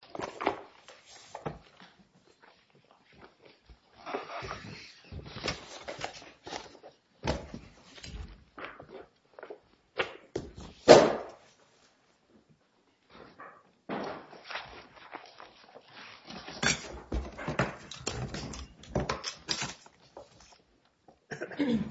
www.LipomaCyst.com www.LipomaCyst.com IPP IPP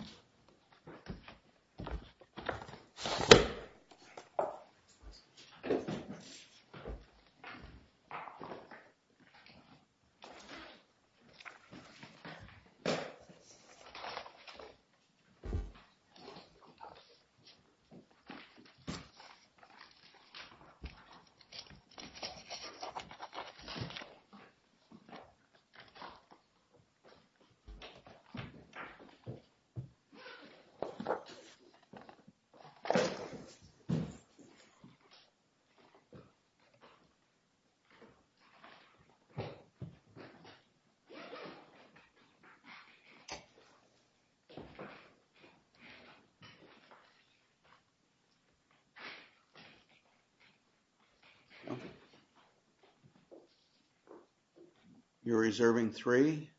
You're reserving three.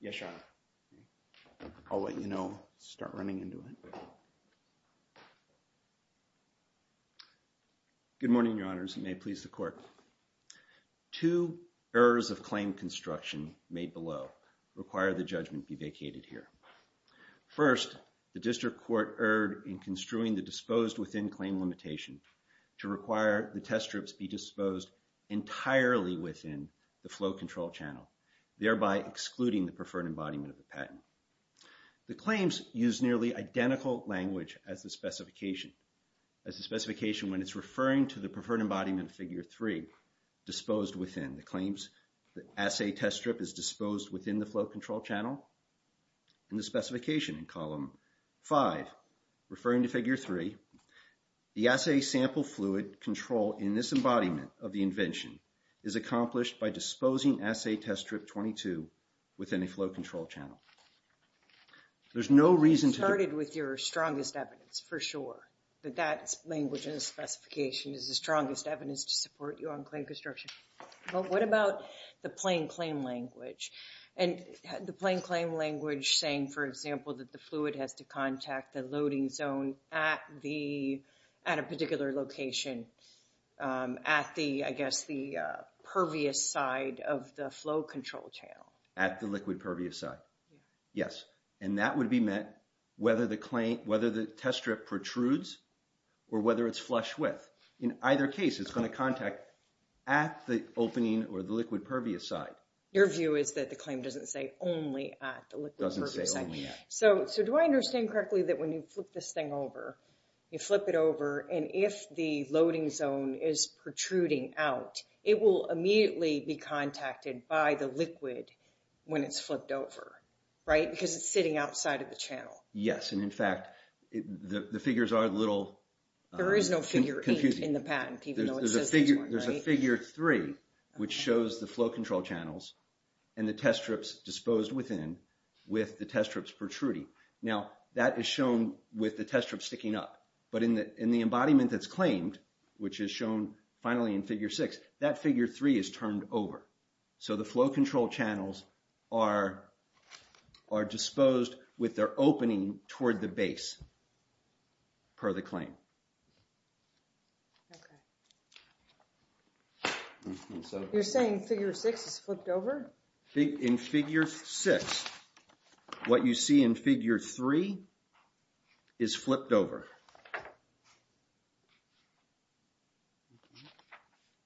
Yes, sir. I'll let you know start running into it Good morning. Your honors. May please the court Two errors of claim construction made below require the judgment be vacated here First the district court erred in construing the disposed within claim limitation to require the test strips be disposed Entirely within the flow control channel thereby excluding the preferred embodiment of the patent the claims use nearly identical language as the Specification as a specification when it's referring to the preferred embodiment of figure three Disposed within the claims the assay test strip is disposed within the flow control channel in the specification in column five referring to figure three The assay sample fluid control in this embodiment of the invention is Accomplished by disposing assay test strip 22 within a flow control channel There's no reason to started with your strongest evidence for sure that that's language in Specification is the strongest evidence to support you on claim construction but what about the plain claim language and the plain claim language saying for example that the fluid has to contact the loading zone at the at a particular location at the I guess the Flow control channel at the liquid pervious side Yes And that would be met whether the claim whether the test strip protrudes Or whether it's flush with in either case it's going to contact at the opening or the liquid pervious side Your view is that the claim doesn't say only at the liquid pervious side so so do I understand correctly that when you flip this thing over you flip it over and if the loading zone is Protruding out it will immediately be contacted by the liquid when it's flipped over Right because it's sitting outside of the channel. Yes, and in fact the figures are a little There is no figure in the patent There's a figure three which shows the flow control channels and the test strips disposed within With the test strips protruding now that is shown with the test trip sticking up, but in the in the embodiment That's claimed. Which is shown finally in figure six that figure three is turned over so the flow control channels are Are disposed with their opening toward the base? per the claim You're saying figure six is flipped over big in figure six What you see in figure three is? flipped over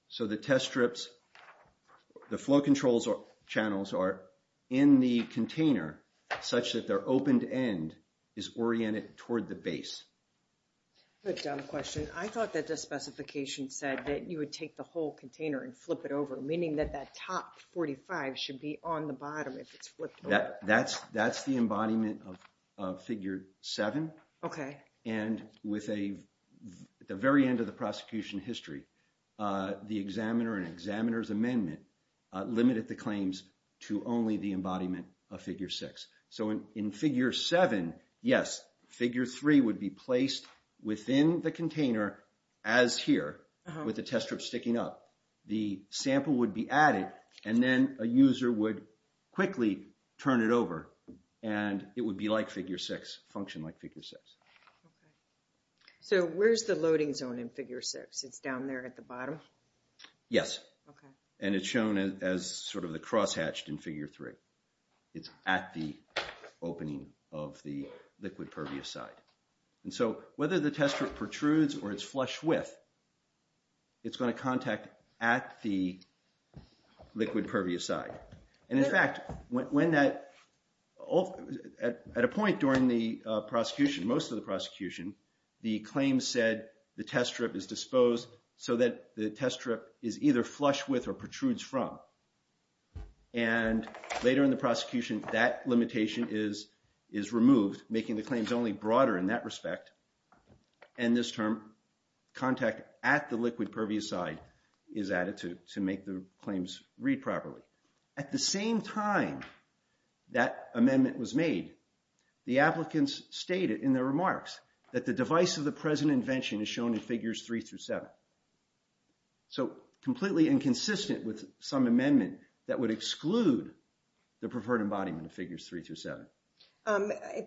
So The test strips The flow controls or channels are in the container such that they're opened end is oriented toward the base The dumb question I thought that the specification said that you would take the whole container and flip it over meaning that that top 45 should be on the bottom if it's flipped that that's that's the embodiment of figure seven okay, and with a At the very end of the prosecution history the examiner and examiners amendment Limited the claims to only the embodiment of figure six so in in figure seven yes figure three would be placed within the container as Here with the test strip sticking up the sample would be added and then a user would quickly Turn it over and it would be like figure six function like figure six So where's the loading zone in figure six it's down there at the bottom Yes, and it's shown as sort of the cross hatched in figure three. It's at the Opening of the liquid pervious side and so whether the test strip protrudes or it's flush with it's going to contact at the liquid pervious side and in fact when that At a point during the prosecution most of the prosecution the claim said the test strip is disposed so that the test strip is either flush with or protrudes from and later in the prosecution that limitation is is removed making the claims only broader in that respect and this term Contact at the liquid pervious side is added to to make the claims read properly at the same time That amendment was made The applicants stated in their remarks that the device of the present invention is shown in figures three through seven So completely inconsistent with some amendment that would exclude the preferred embodiment of figures three through seven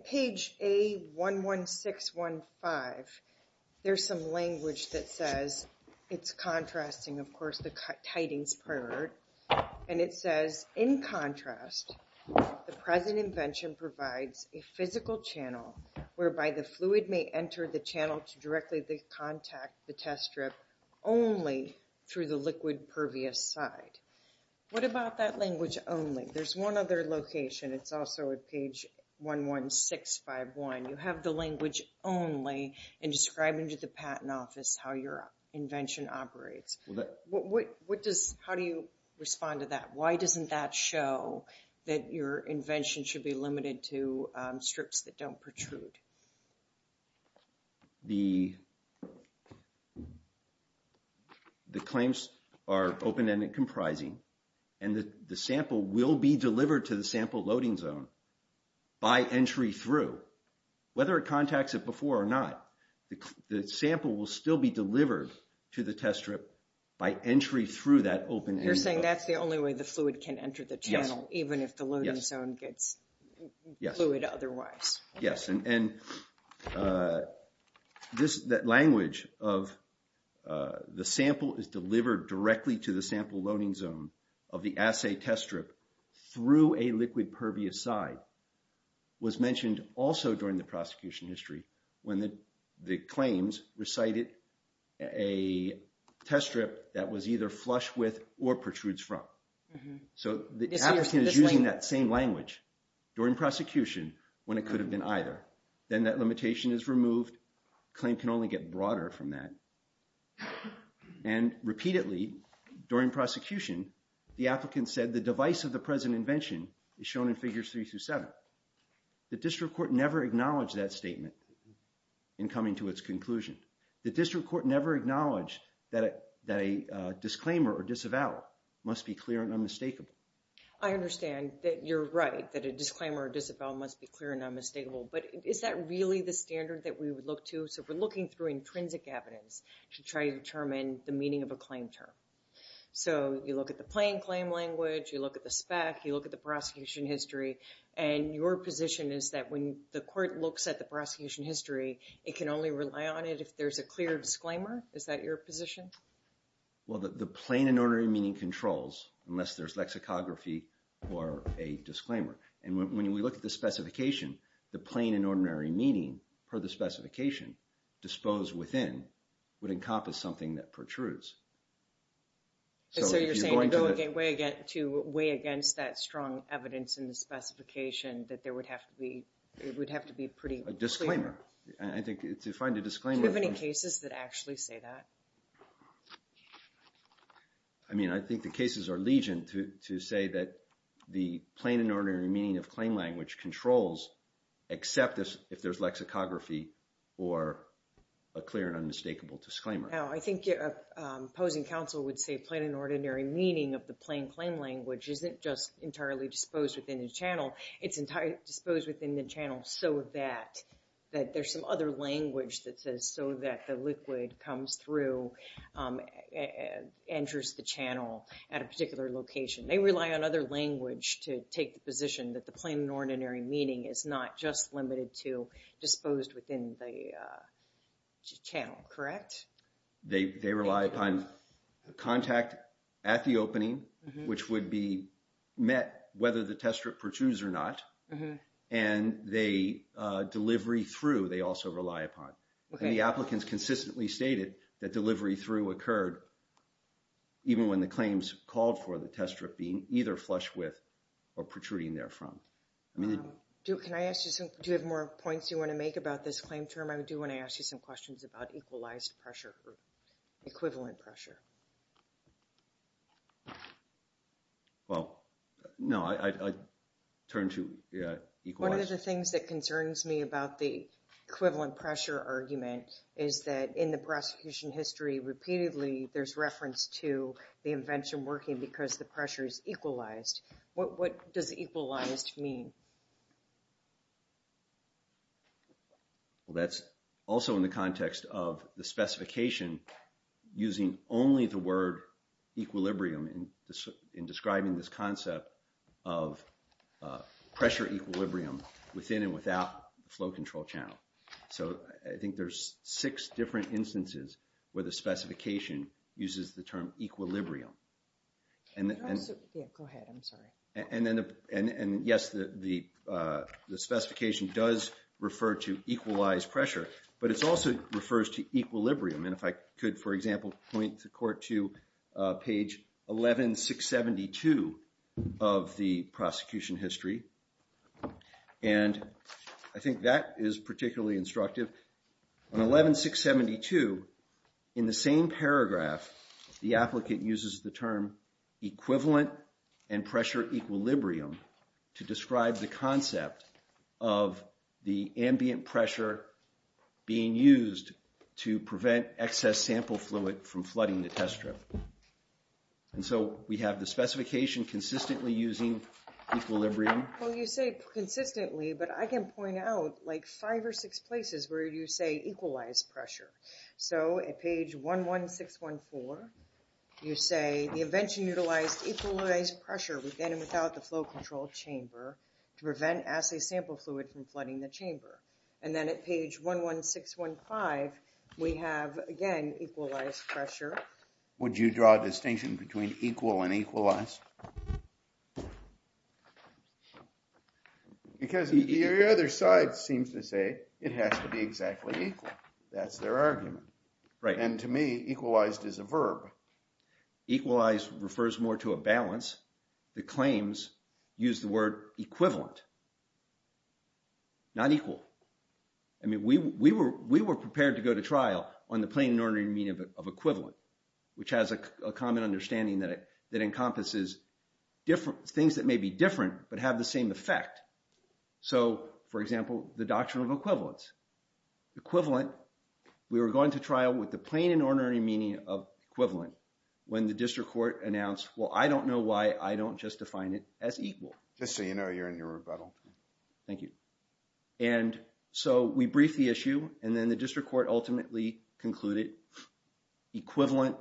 page a 1 1 6 1 5 There's some language that says it's contrasting of course the cut tidings prayer And it says in contrast The present invention provides a physical channel whereby the fluid may enter the channel to directly the contact the test strip Only through the liquid pervious side What about that language only there's one other location? It's also at page 1 1 6 5 1 you have the language only in describing to the patent office how your Invention operates what what does how do you respond to that? Why doesn't that show that your invention should be limited to strips that don't protrude? The The claims are open-ended comprising and that the sample will be delivered to the sample loading zone by entry through Whether it contacts it before or not The sample will still be delivered to the test strip by entry through that open You're saying that's the only way the fluid can enter the channel even if the loading zone gets Yeah, it otherwise yes, and and This that language of The sample is delivered directly to the sample loading zone of the assay test strip through a liquid pervious side Was mentioned also during the prosecution history when the the claims recited a Test strip that was either flush with or protrudes from So the other thing is using that same language During prosecution when it could have been either then that limitation is removed claim can only get broader from that and repeatedly during Prosecution the applicant said the device of the present invention is shown in figures three through seven The district court never acknowledged that statement in coming to its conclusion. The district court never acknowledged that that a Disclaimer or disavow must be clear and unmistakable. I Understand that you're right that a disclaimer or disavow must be clear and unmistakable But is that really the standard that we would look to so we're looking through intrinsic evidence to try to determine the meaning of a claim So you look at the plain claim language you look at the spec you look at the prosecution history and Your position is that when the court looks at the prosecution history, it can only rely on it If there's a clear disclaimer, is that your position? well, the plain and ordinary meaning controls unless there's lexicography or a disclaimer and when we look at the Specification the plain and ordinary meaning per the specification Disposed within would encompass something that protrudes So you're going to get way again to weigh against that strong evidence in the Specification that there would have to be it would have to be pretty a disclaimer I think it's to find a disclaimer of any cases that actually say that I Mean I think the cases are legion to say that the plain and ordinary meaning of claim language controls except this if there's lexicography or a clear and unmistakable disclaimer I think Opposing counsel would say plain and ordinary meaning of the plain claim language isn't just entirely disposed within the channel It's entirely disposed within the channel. So that that there's some other language that says so that the liquid comes through Enters the channel at a particular location they rely on other language to take the position that the plain and ordinary meaning is not just limited to Disposed within the Channel, correct? They rely upon contact at the opening which would be met whether the test strip protrudes or not and they Delivery through they also rely upon the applicants consistently stated that delivery through occurred Even when the claims called for the test strip being either flush with or protruding there from I mean Can I ask you some do you have more points you want to make about this claim term? I would do when I ask you some questions about equalized pressure equivalent pressure Well, no, I Turn to equal one of the things that concerns me about the equivalent pressure argument Is that in the prosecution history repeatedly? There's reference to the invention working because the pressure is equalized What does equalized mean? Well That's also in the context of the specification using only the word equilibrium in this in describing this concept of Pressure equilibrium within and without flow control channel So I think there's six different instances where the specification uses the term equilibrium and And then and and yes the the Specification does refer to equalized pressure, but it's also refers to equilibrium And if I could for example point to court to page 11672 of the prosecution history and I think that is particularly instructive on 11672 in the same paragraph the applicant uses the term equivalent and pressure equilibrium To describe the concept of the ambient pressure Being used to prevent excess sample fluid from flooding the test strip And so we have the specification consistently using Equilibrium well you say consistently, but I can point out like five or six places where you say equalized pressure So at page one one six one four You say the invention utilized equalized pressure within and without the flow control chamber To prevent assay sample fluid from flooding the chamber and then at page one one six one five We have again equalized pressure Would you draw a distinction between equal and equalized? Because the other side seems to say it has to be exactly that's their argument right and to me equalized is a verb Equalized refers more to a balance the claims use the word equivalent Not equal I Mean we we were we were prepared to go to trial on the plain inordinary meaning of it of equivalent Which has a common understanding that it that encompasses Different things that may be different, but have the same effect So for example the doctrine of equivalence Equivalent we were going to trial with the plain inordinary meaning of equivalent when the district court announced well I don't know why I don't just define it as equal. Just so you know you're in your rebuttal. Thank you and So we brief the issue and then the district court ultimately concluded equivalent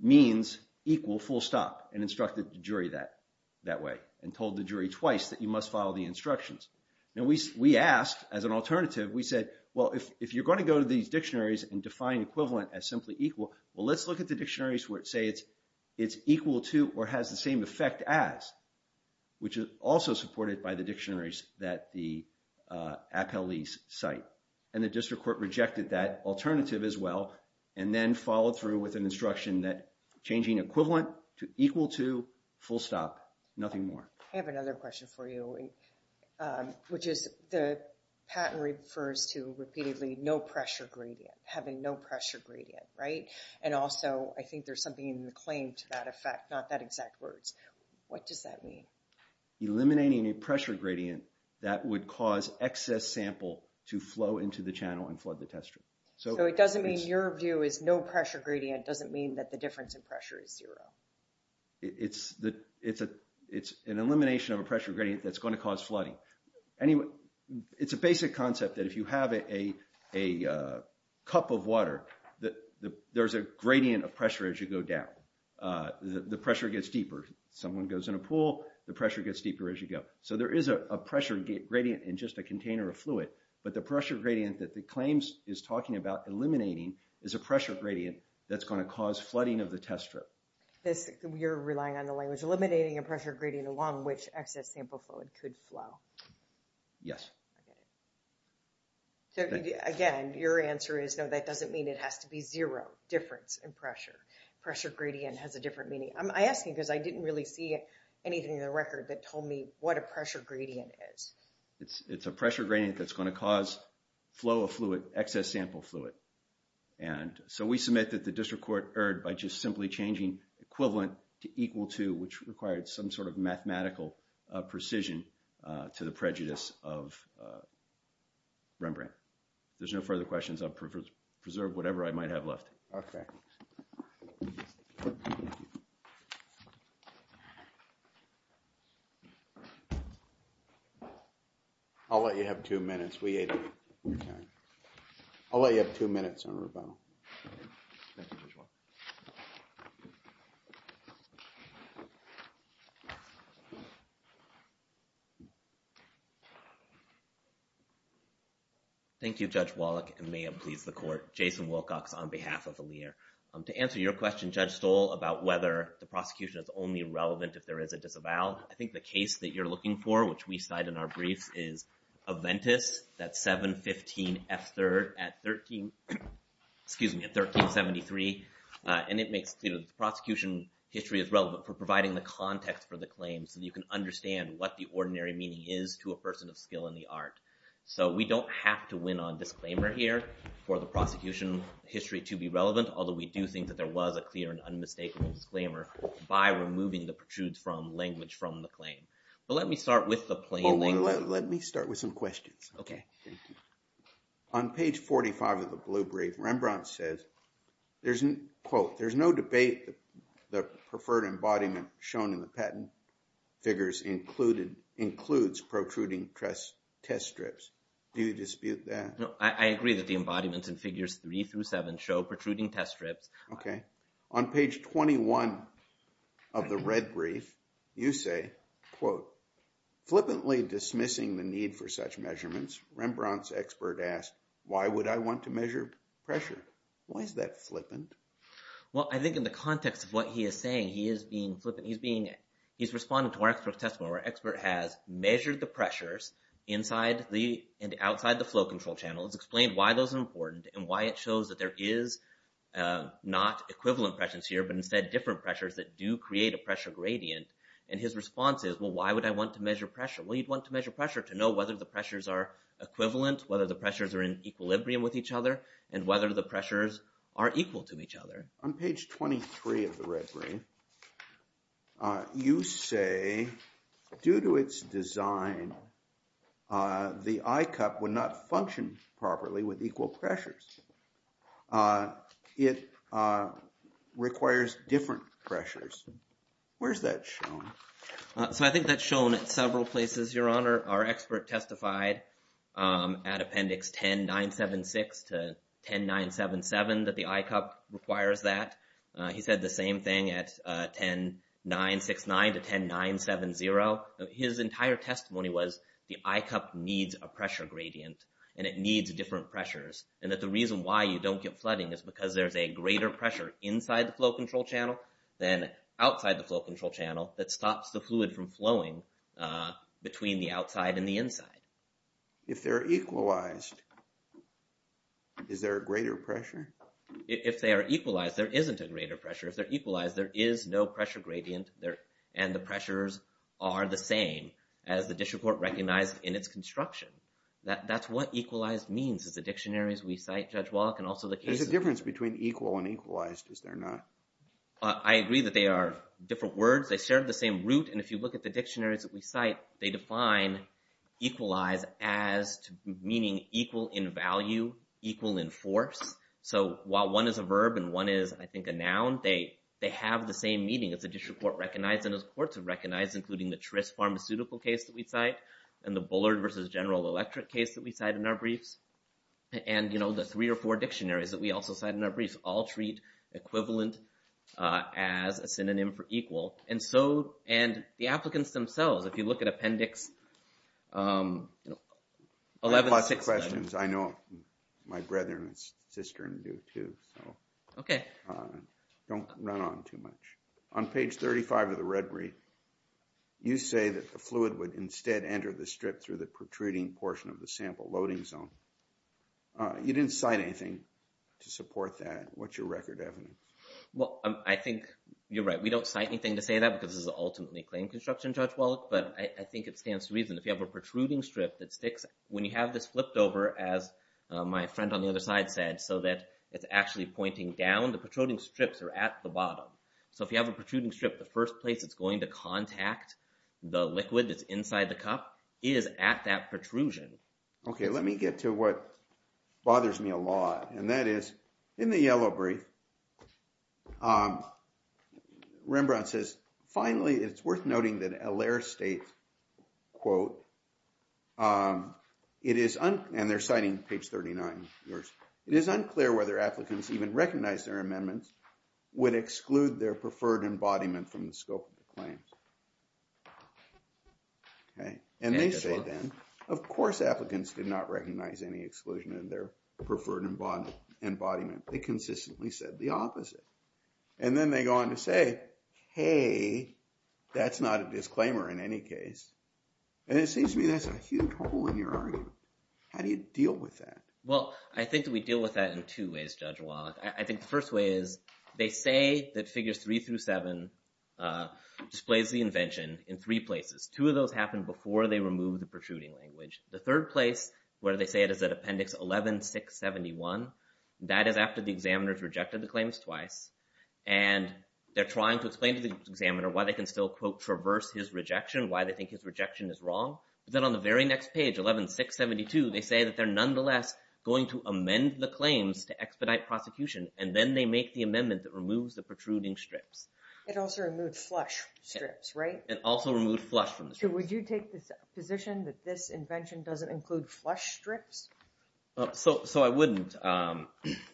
Means equal full stop and instructed the jury that that way and told the jury twice that you must follow the instructions Now we we asked as an alternative We said well if you're going to go to these dictionaries and define equivalent as simply equal well Let's look at the dictionaries where it say it's it's equal to or has the same effect as which is also supported by the dictionaries that the Appellees cite and the district court rejected that alternative as well And then followed through with an instruction that changing equivalent to equal to full stop nothing more I have another question for you which is the Patent refers to repeatedly no pressure gradient having no pressure gradient right and also I think there's something in the claim to that effect not that exact words. What does that mean? Eliminating a pressure gradient that would cause excess sample to flow into the channel and flood the test room So it doesn't mean your view is no pressure gradient doesn't mean that the difference in pressure is zero It's the it's a it's an elimination of a pressure gradient. That's going to cause flooding anyway, it's a basic concept that if you have a a Cup of water that there's a gradient of pressure as you go down The pressure gets deeper someone goes in a pool the pressure gets deeper as you go So there is a pressure gradient in just a container of fluid But the pressure gradient that the claims is talking about eliminating is a pressure gradient That's going to cause flooding of the test strip this you're relying on the language eliminating a pressure gradient along which excess sample fluid could flow Yes Again your answer is no that doesn't mean it has to be zero difference in pressure pressure gradient has a different meaning I'm asking because I didn't really see it anything in the record that told me what a pressure gradient is it's it's a pressure gradient that's going to cause flow of fluid excess sample fluid and So we submit that the district court erred by just simply changing equivalent to equal to which required some sort of mathematical Precision to the prejudice of Rembrandt there's no further questions. I've preserved whatever I might have left, okay I'll let you have two minutes. We ate. I'll let you have two minutes on You Thank You judge Wallach and may it please the court Jason Wilcox on behalf of the leader To answer your question judge stole about whether the prosecution is only relevant if there is a disavow I think the case that you're looking for which we cite in our briefs is Aventis that 715 f3rd at 13 Excuse me at 1373 And it makes the prosecution History is relevant for providing the context for the claim so you can understand what the ordinary meaning is to a person of skill In the art, so we don't have to win on disclaimer here for the prosecution history to be relevant Although we do think that there was a clear and unmistakable disclaimer by removing the protrudes from language from the claim But let me start with the plain language. Let me start with some questions, okay? on page 45 of the blue brief Rembrandt says There's an quote. There's no debate the preferred embodiment shown in the patent Figures included includes protruding press test strips. Do you dispute that? No, I agree that the embodiments and figures three through seven show protruding test strips, okay on page 21 of the red brief you say quote Flippantly dismissing the need for such measurements Rembrandt's expert asked why would I want to measure pressure? Why is that flippant? Well, I think in the context of what he is saying he is being flippant He's being he's responding to our expert testimony where expert has measured the pressures Inside the and outside the flow control channels explained why those important and why it shows that there is Not equivalent presence here, but instead different pressures that do create a pressure gradient and his response is well Why would I want to measure pressure? well you'd want to measure pressure to know whether the pressures are equivalent whether the pressures are in equilibrium with each other and whether the Pressures are equal to each other on page 23 of the red ring You say due to its design The I cup would not function properly with equal pressures It requires different pressures Where's that shown? So I think that's shown at several places your honor our expert testified At appendix 10 9 7 6 to 10 9 7 7 that the I cup requires that He said the same thing at 10 9 6 9 to 10 9 7 0 His entire testimony was the I cup needs a pressure gradient and it needs different pressures And that the reason why you don't get flooding is because there's a greater pressure inside the flow control channel Then outside the flow control channel that stops the fluid from flowing between the outside and the inside if they're equalized Is there a greater pressure? If they are equalized there isn't a greater pressure if they're equalized there is no pressure gradient there And the pressures are the same as the district court recognized in its construction That that's what equalized means is the dictionaries we cite judge walk and also the difference between equal and equalized is there not? I agree that they are different words. They shared the same root and if you look at the dictionaries that we cite they define equalized as Meaning equal in value equal in force So while one is a verb and one is I think a noun they they have the same meaning as the district court recognized And as courts have recognized including the Trist pharmaceutical case that we cite and the Bullard versus General Electric case that we cite in our briefs And you know the three or four dictionaries that we also cite in our briefs all treat Equivalent as a synonym for equal and so and the applicants themselves if you look at appendix 11 questions, I know My brethren sister and you too, okay? Don't run on too much on page 35 of the red brief You say that the fluid would instead enter the strip through the protruding portion of the sample loading zone You didn't cite anything to support that what's your record evidence well, I think you're right We don't cite anything to say that because this is ultimately claim construction judge well but I think it stands to reason if you have a protruding strip that sticks when you have this flipped over as My friend on the other side said so that it's actually pointing down the protruding strips are at the bottom So if you have a protruding strip the first place, it's going to contact the liquid It's inside the cup is at that protrusion. Okay. Let me get to what? Bothers me a lot and that is in the yellow brief Rembrandt says finally it's worth noting that a layer state quote It is and they're citing page 39 yours it is unclear whether applicants even recognize their amendments Would exclude their preferred embodiment from the scope of the claims Okay, and they say then of course applicants did not recognize any exclusion in their preferred and bond Embodiment they consistently said the opposite and then they go on to say hey That's not a disclaimer in any case and it seems to me. That's a huge hole in your argument How do you deal with that? Well, I think that we deal with that in two ways judge Well, I think the first way is they say that figures three through seven Displays the invention in three places two of those happen before they remove the protruding language the third place where they say it is that appendix 11 671 that is after the examiners rejected the claims twice and They're trying to explain to the examiner why they can still quote traverse his rejection why they think his rejection is wrong Then on the very next page 11 672 They say that they're nonetheless going to amend the claims to expedite prosecution and then they make the amendment that removes the protruding strips It also removes flush strips, right? It also removed flush from the shoe Would you take this position that this invention doesn't include flush strips? So so I wouldn't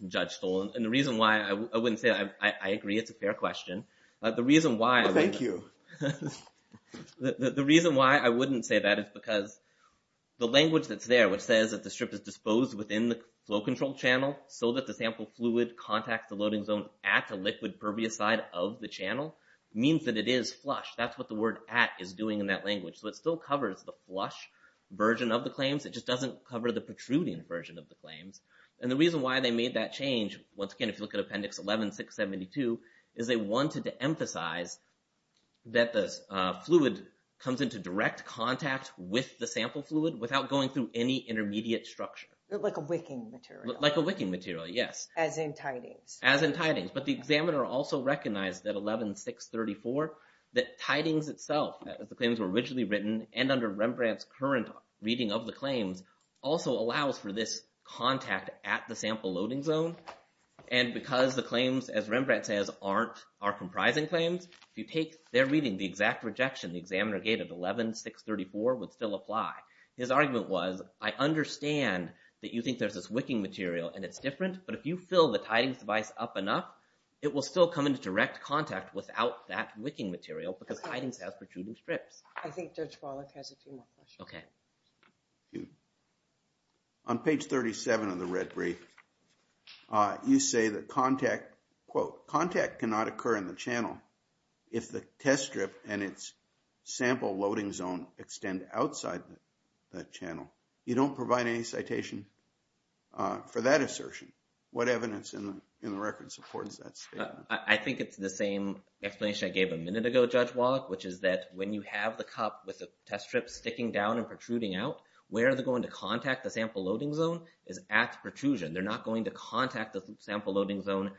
Judge stolen and the reason why I wouldn't say I agree. It's a fair question. The reason why thank you The reason why I wouldn't say that is because The language that's there which says that the strip is disposed within the flow control channel So that the sample fluid contacts the loading zone at a liquid pervious side of the channel means that it is flush That's what the word at is doing in that language. So it still covers the flush version of the claims It just doesn't cover the protruding version of the claims and the reason why they made that change Once again, if you look at appendix 11 672 is they wanted to emphasize that this fluid comes into direct contact with the sample fluid without going through any Wicking material. Yes as in tidings as in tidings, but the examiner also recognized that 11 634 that tidings itself The claims were originally written and under Rembrandt's current reading of the claims also allows for this contact at the sample loading zone and Because the claims as Rembrandt says aren't are comprising claims If you take their reading the exact rejection the examiner gated 11 634 would still apply his argument was I understand That you think there's this wicking material and it's different But if you fill the tidings device up enough It will still come into direct contact without that wicking material because tidings has protruding strips. I think Judge Wallach has a few more questions. Okay On page 37 of the red brief You say that contact quote contact cannot occur in the channel if the test strip and its Sample-loading zone extend outside that channel. You don't provide any citation For that assertion what evidence in the record supports that statement? I think it's the same Explanation I gave a minute ago Judge Wallach Which is that when you have the cup with a test strip sticking down and protruding out Where are they going to contact the sample-loading zone is at protrusion? They're not going to contact the sample-loading zone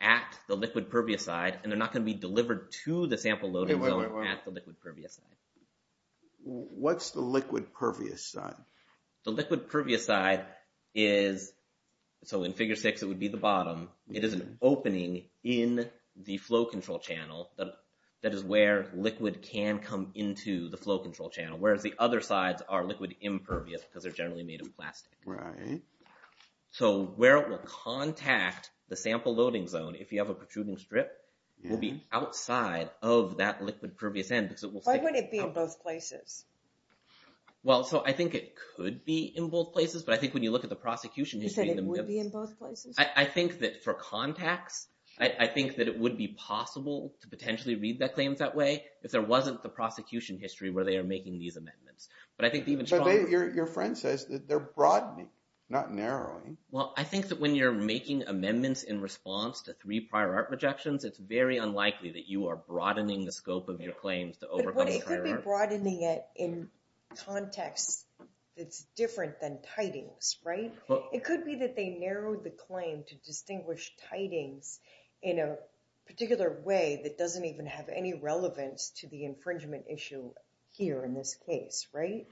at the liquid pervious side And they're not going to be delivered to the sample-loading What's the liquid pervious side the liquid pervious side is So in figure six, it would be the bottom It is an opening in the flow control channel But that is where liquid can come into the flow control channel Whereas the other sides are liquid impervious because they're generally made of plastic, right? So where it will contact the sample-loading zone if you have a protruding strip Will be outside of that liquid pervious end because it will say what it be in both places Well, so I think it could be in both places But I think when you look at the prosecution is that it would be in both places I think that for contacts I think that it would be possible to potentially read that claims that way if there wasn't the prosecution history where they are making these Not narrowing. Well, I think that when you're making amendments in response to three prior art rejections it's very unlikely that you are broadening the scope of your claims to broadening it in Context it's different than tidings, right? It could be that they narrowed the claim to distinguish tidings in a particular way That doesn't even have any relevance to the infringement issue here in this case, right?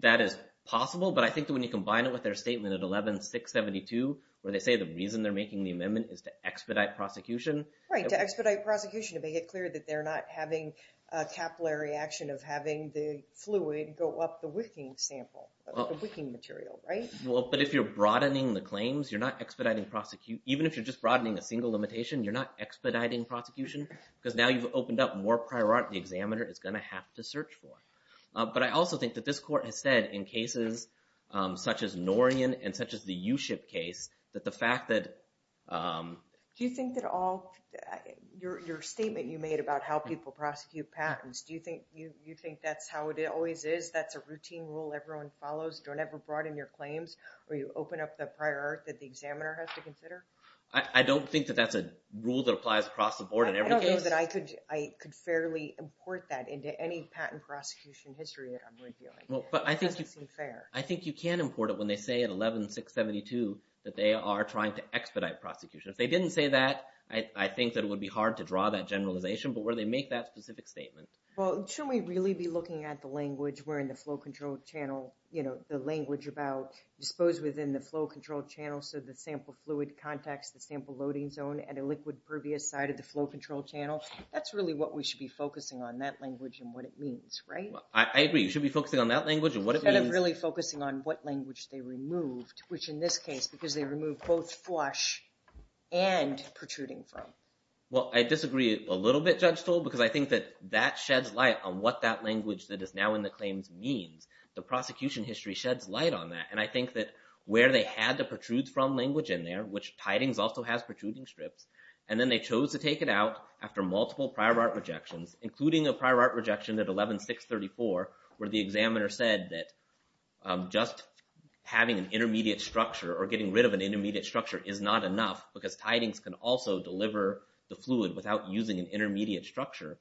That is possible But I think when you combine it with their statement at 11 672 where they say the reason they're making the amendment is to expedite Prosecution right to expedite prosecution to make it clear that they're not having Capillary action of having the fluid go up the wicking sample wicking material, right? Well, but if you're broadening the claims, you're not expediting prosecute Even if you're just broadening a single limitation You're not expediting prosecution because now you've opened up more prior art the examiner is gonna have to search for But I also think that this court has said in cases Such as Noryan and such as the you ship case that the fact that Do you think that all? Your statement you made about how people prosecute patents. Do you think you you think that's how it always is? That's a routine rule Everyone follows don't ever broaden your claims or you open up the prior art that the examiner has to consider I don't think that that's a rule that applies across the board and everything that I could I could fairly Import that into any patent prosecution history Well, but I think I think you can import it when they say at 11 672 that they are trying to expedite prosecution if they didn't say that I think that it would be hard to draw that generalization But where they make that specific statement, well, should we really be looking at the language? We're in the flow control channel, you know the language about Disposed within the flow control channel So the sample fluid contacts the sample loading zone and a liquid pervious side of the flow control channel That's really what we should be focusing on that language and what it means, right? I agree You should be focusing on that language and what I'm really focusing on what language they removed which in this case because they removed both flush and protruding from Well, I disagree a little bit judge told because I think that that sheds light on what that language that is now in the claims Means the prosecution history sheds light on that and I think that where they had to protrude from language in there Which tidings also has protruding strips and then they chose to take it out after multiple prior art rejections including a prior art rejection at 11 634 where the examiner said that just Having an intermediate structure or getting rid of an intermediate structure is not enough because tidings can also deliver The fluid without using an intermediate structure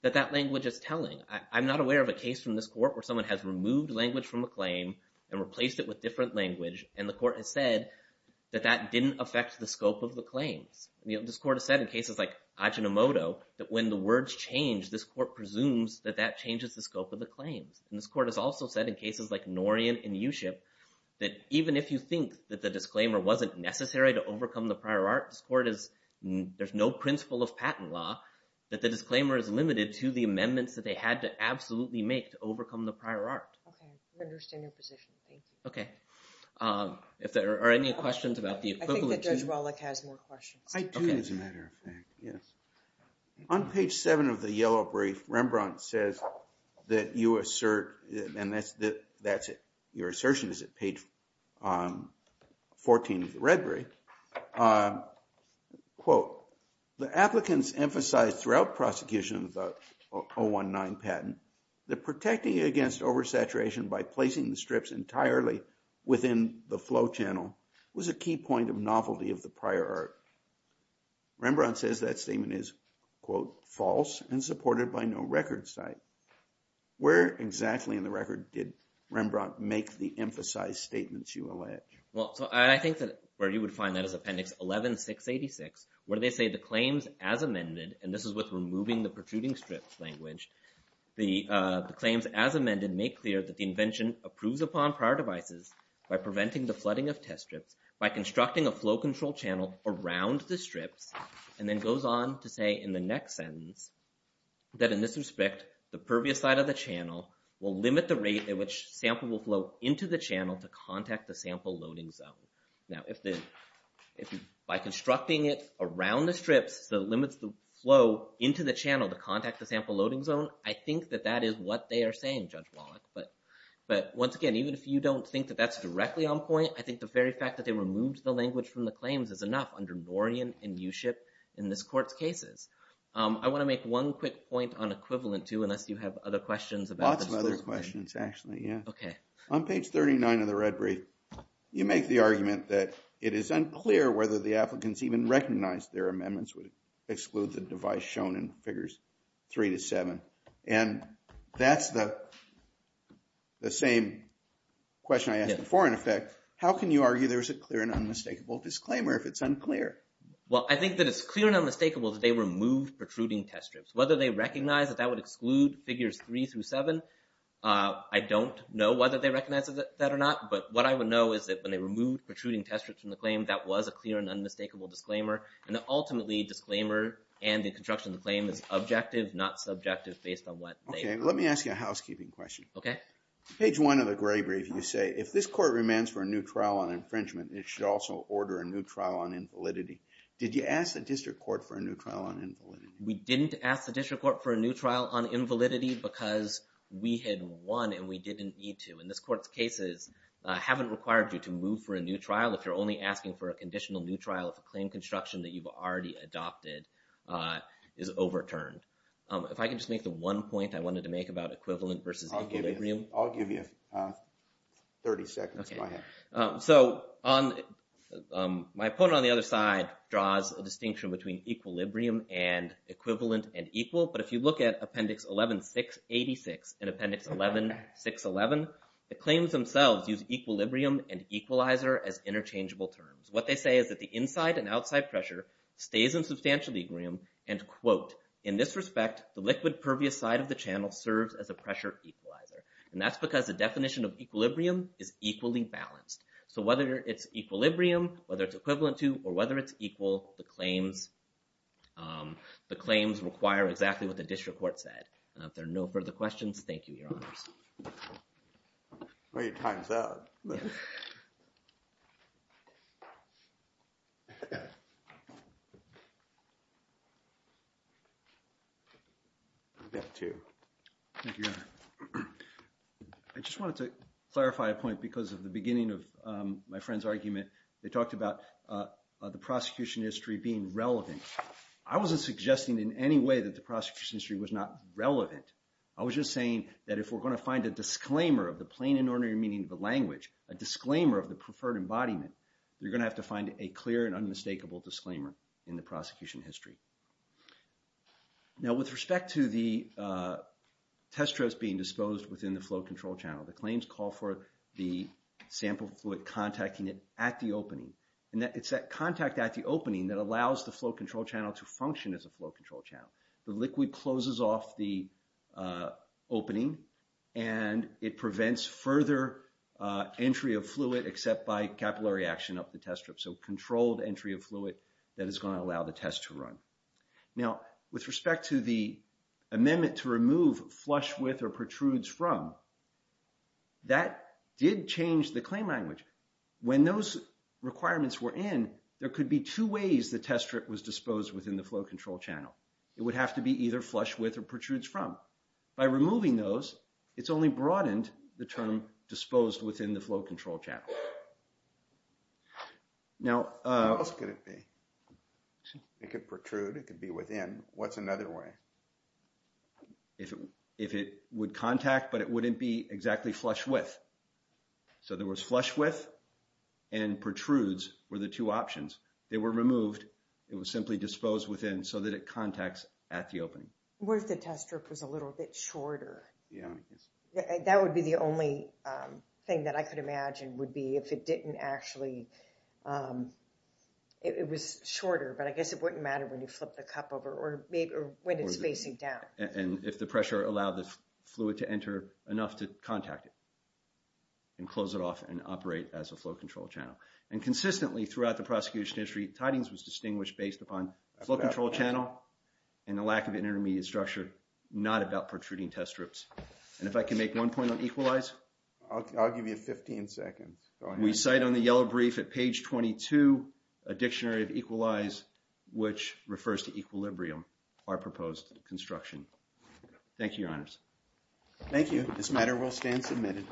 that that language is telling I'm not aware of a case from this court where someone has removed language from a claim and Has said that that didn't affect the scope of the claims I mean this court has said in cases like Ajinomoto that when the words change this court presumes that that changes the scope of the claims and this court has also said in cases like Norian and you ship that even if you think that the disclaimer wasn't necessary to overcome the prior art this court is There's no principle of patent law That the disclaimer is limited to the amendments that they had to absolutely make to overcome the prior art I understand your position. Thank you. Okay, if there are any questions about the Yes On page 7 of the yellow brief Rembrandt says that you assert and that's that that's it. Your assertion is at page 14 of the Red Brief Quote the applicants emphasized throughout prosecutions 019 patent the protecting against oversaturation by placing the strips entirely Within the flow channel was a key point of novelty of the prior art Rembrandt says that statement is quote false and supported by no record site Where exactly in the record did Rembrandt make the emphasized statements you allege? Well, so I think that where you would find that as appendix 11 686 where they say the claims as amended and this is with removing the protruding strips language the Claims as amended make clear that the invention approves upon prior devices By preventing the flooding of test strips by constructing a flow control channel around the strips and then goes on to say in the next sentence that in this respect the pervious side of the channel will limit the rate at which Sample will flow into the channel to contact the sample loading zone Now if the if by constructing it around the strips the limits the flow into the channel to contact the sample loading zone I think that that is what they are saying Judge Wallach But but once again, even if you don't think that that's directly on point I think the very fact that they removed the language from the claims is enough under Dorian and you ship in this court's cases I want to make one quick point on equivalent to unless you have other questions about other questions actually Okay on page 39 of the red brief You make the argument that it is unclear whether the applicants even recognized their amendments would exclude the device shown in figures three to seven and that's the the same Question I asked before in effect. How can you argue? There's a clear and unmistakable disclaimer if it's unclear Well, I think that it's clear and unmistakable that they were moved protruding test strips whether they recognize that that would exclude figures three through seven I don't know whether they recognize that or not But what I would know is that when they removed protruding test strips from the claim That was a clear and unmistakable disclaimer and ultimately disclaimer and the construction of the claim is objective not subjective based on what? Okay, let me ask you a housekeeping question Okay Page one of the gray brief you say if this court remands for a new trial on infringement It should also order a new trial on invalidity. Did you ask the district court for a new trial on invalidity? We didn't ask the district court for a new trial on invalidity because we had won and we didn't need to in this court's cases Haven't required you to move for a new trial if you're only asking for a conditional new trial of a claim construction that you've already Adopted is overturned. If I can just make the one point I wanted to make about equivalent versus I'll give you 30 seconds. Okay, so on My opponent on the other side draws a distinction between equilibrium and Equivalent and equal but if you look at appendix 11 686 in appendix 11 611 The claims themselves use equilibrium and equalizer as interchangeable terms what they say is that the inside and outside pressure stays in substantial equilibrium and Quote in this respect the liquid pervious side of the channel serves as a pressure equalizer And that's because the definition of equilibrium is equally balanced So whether it's equilibrium whether it's equivalent to or whether it's equal the claims The claims require exactly what the district court said if there are no further questions. Thank you your honors Well your time's up I Just wanted to clarify a point because of the beginning of my friend's argument they talked about The prosecution history being relevant. I wasn't suggesting in any way that the prosecution history was not relevant I was just saying that if we're going to find a disclaimer of the plain and ordinary meaning of the language a To find a clear and unmistakable disclaimer in the prosecution history Now with respect to the Testros being disposed within the flow control channel the claims call for the Sample fluid contacting it at the opening and that it's that contact at the opening that allows the flow control channel to function as a flow control channel the liquid closes off the opening and It prevents further Entry of fluid except by capillary action up the test strip so controlled entry of fluid that is going to allow the test to run now with respect to the amendment to remove flush with or protrudes from That did change the claim language when those Requirements were in there could be two ways the test strip was disposed within the flow control channel It would have to be either flush with or protrudes from by removing those It's only broadened the term disposed within the flow control channel Now It could protrude it could be within what's another way if it if it would contact, but it wouldn't be exactly flush with so there was flush with and Protrudes were the two options they were removed It was simply disposed within so that it contacts at the opening what if the test strip was a little bit shorter Yeah, that would be the only Thing that I could imagine would be if it didn't actually It was shorter But I guess it wouldn't matter when you flip the cup over or maybe when it's facing down and if the pressure allowed this fluid to enter enough to contact it and Close it off and operate as a flow control channel and consistently throughout the prosecution history tidings was distinguished based upon Control channel and the lack of an intermediate structure not about protruding test strips, and if I can make one point on equalize I'll give you 15 seconds. We cite on the yellow brief at page 22 a dictionary of equalize Which refers to equilibrium our proposed construction? Thank you your honors Thank you. This matter will stand submitted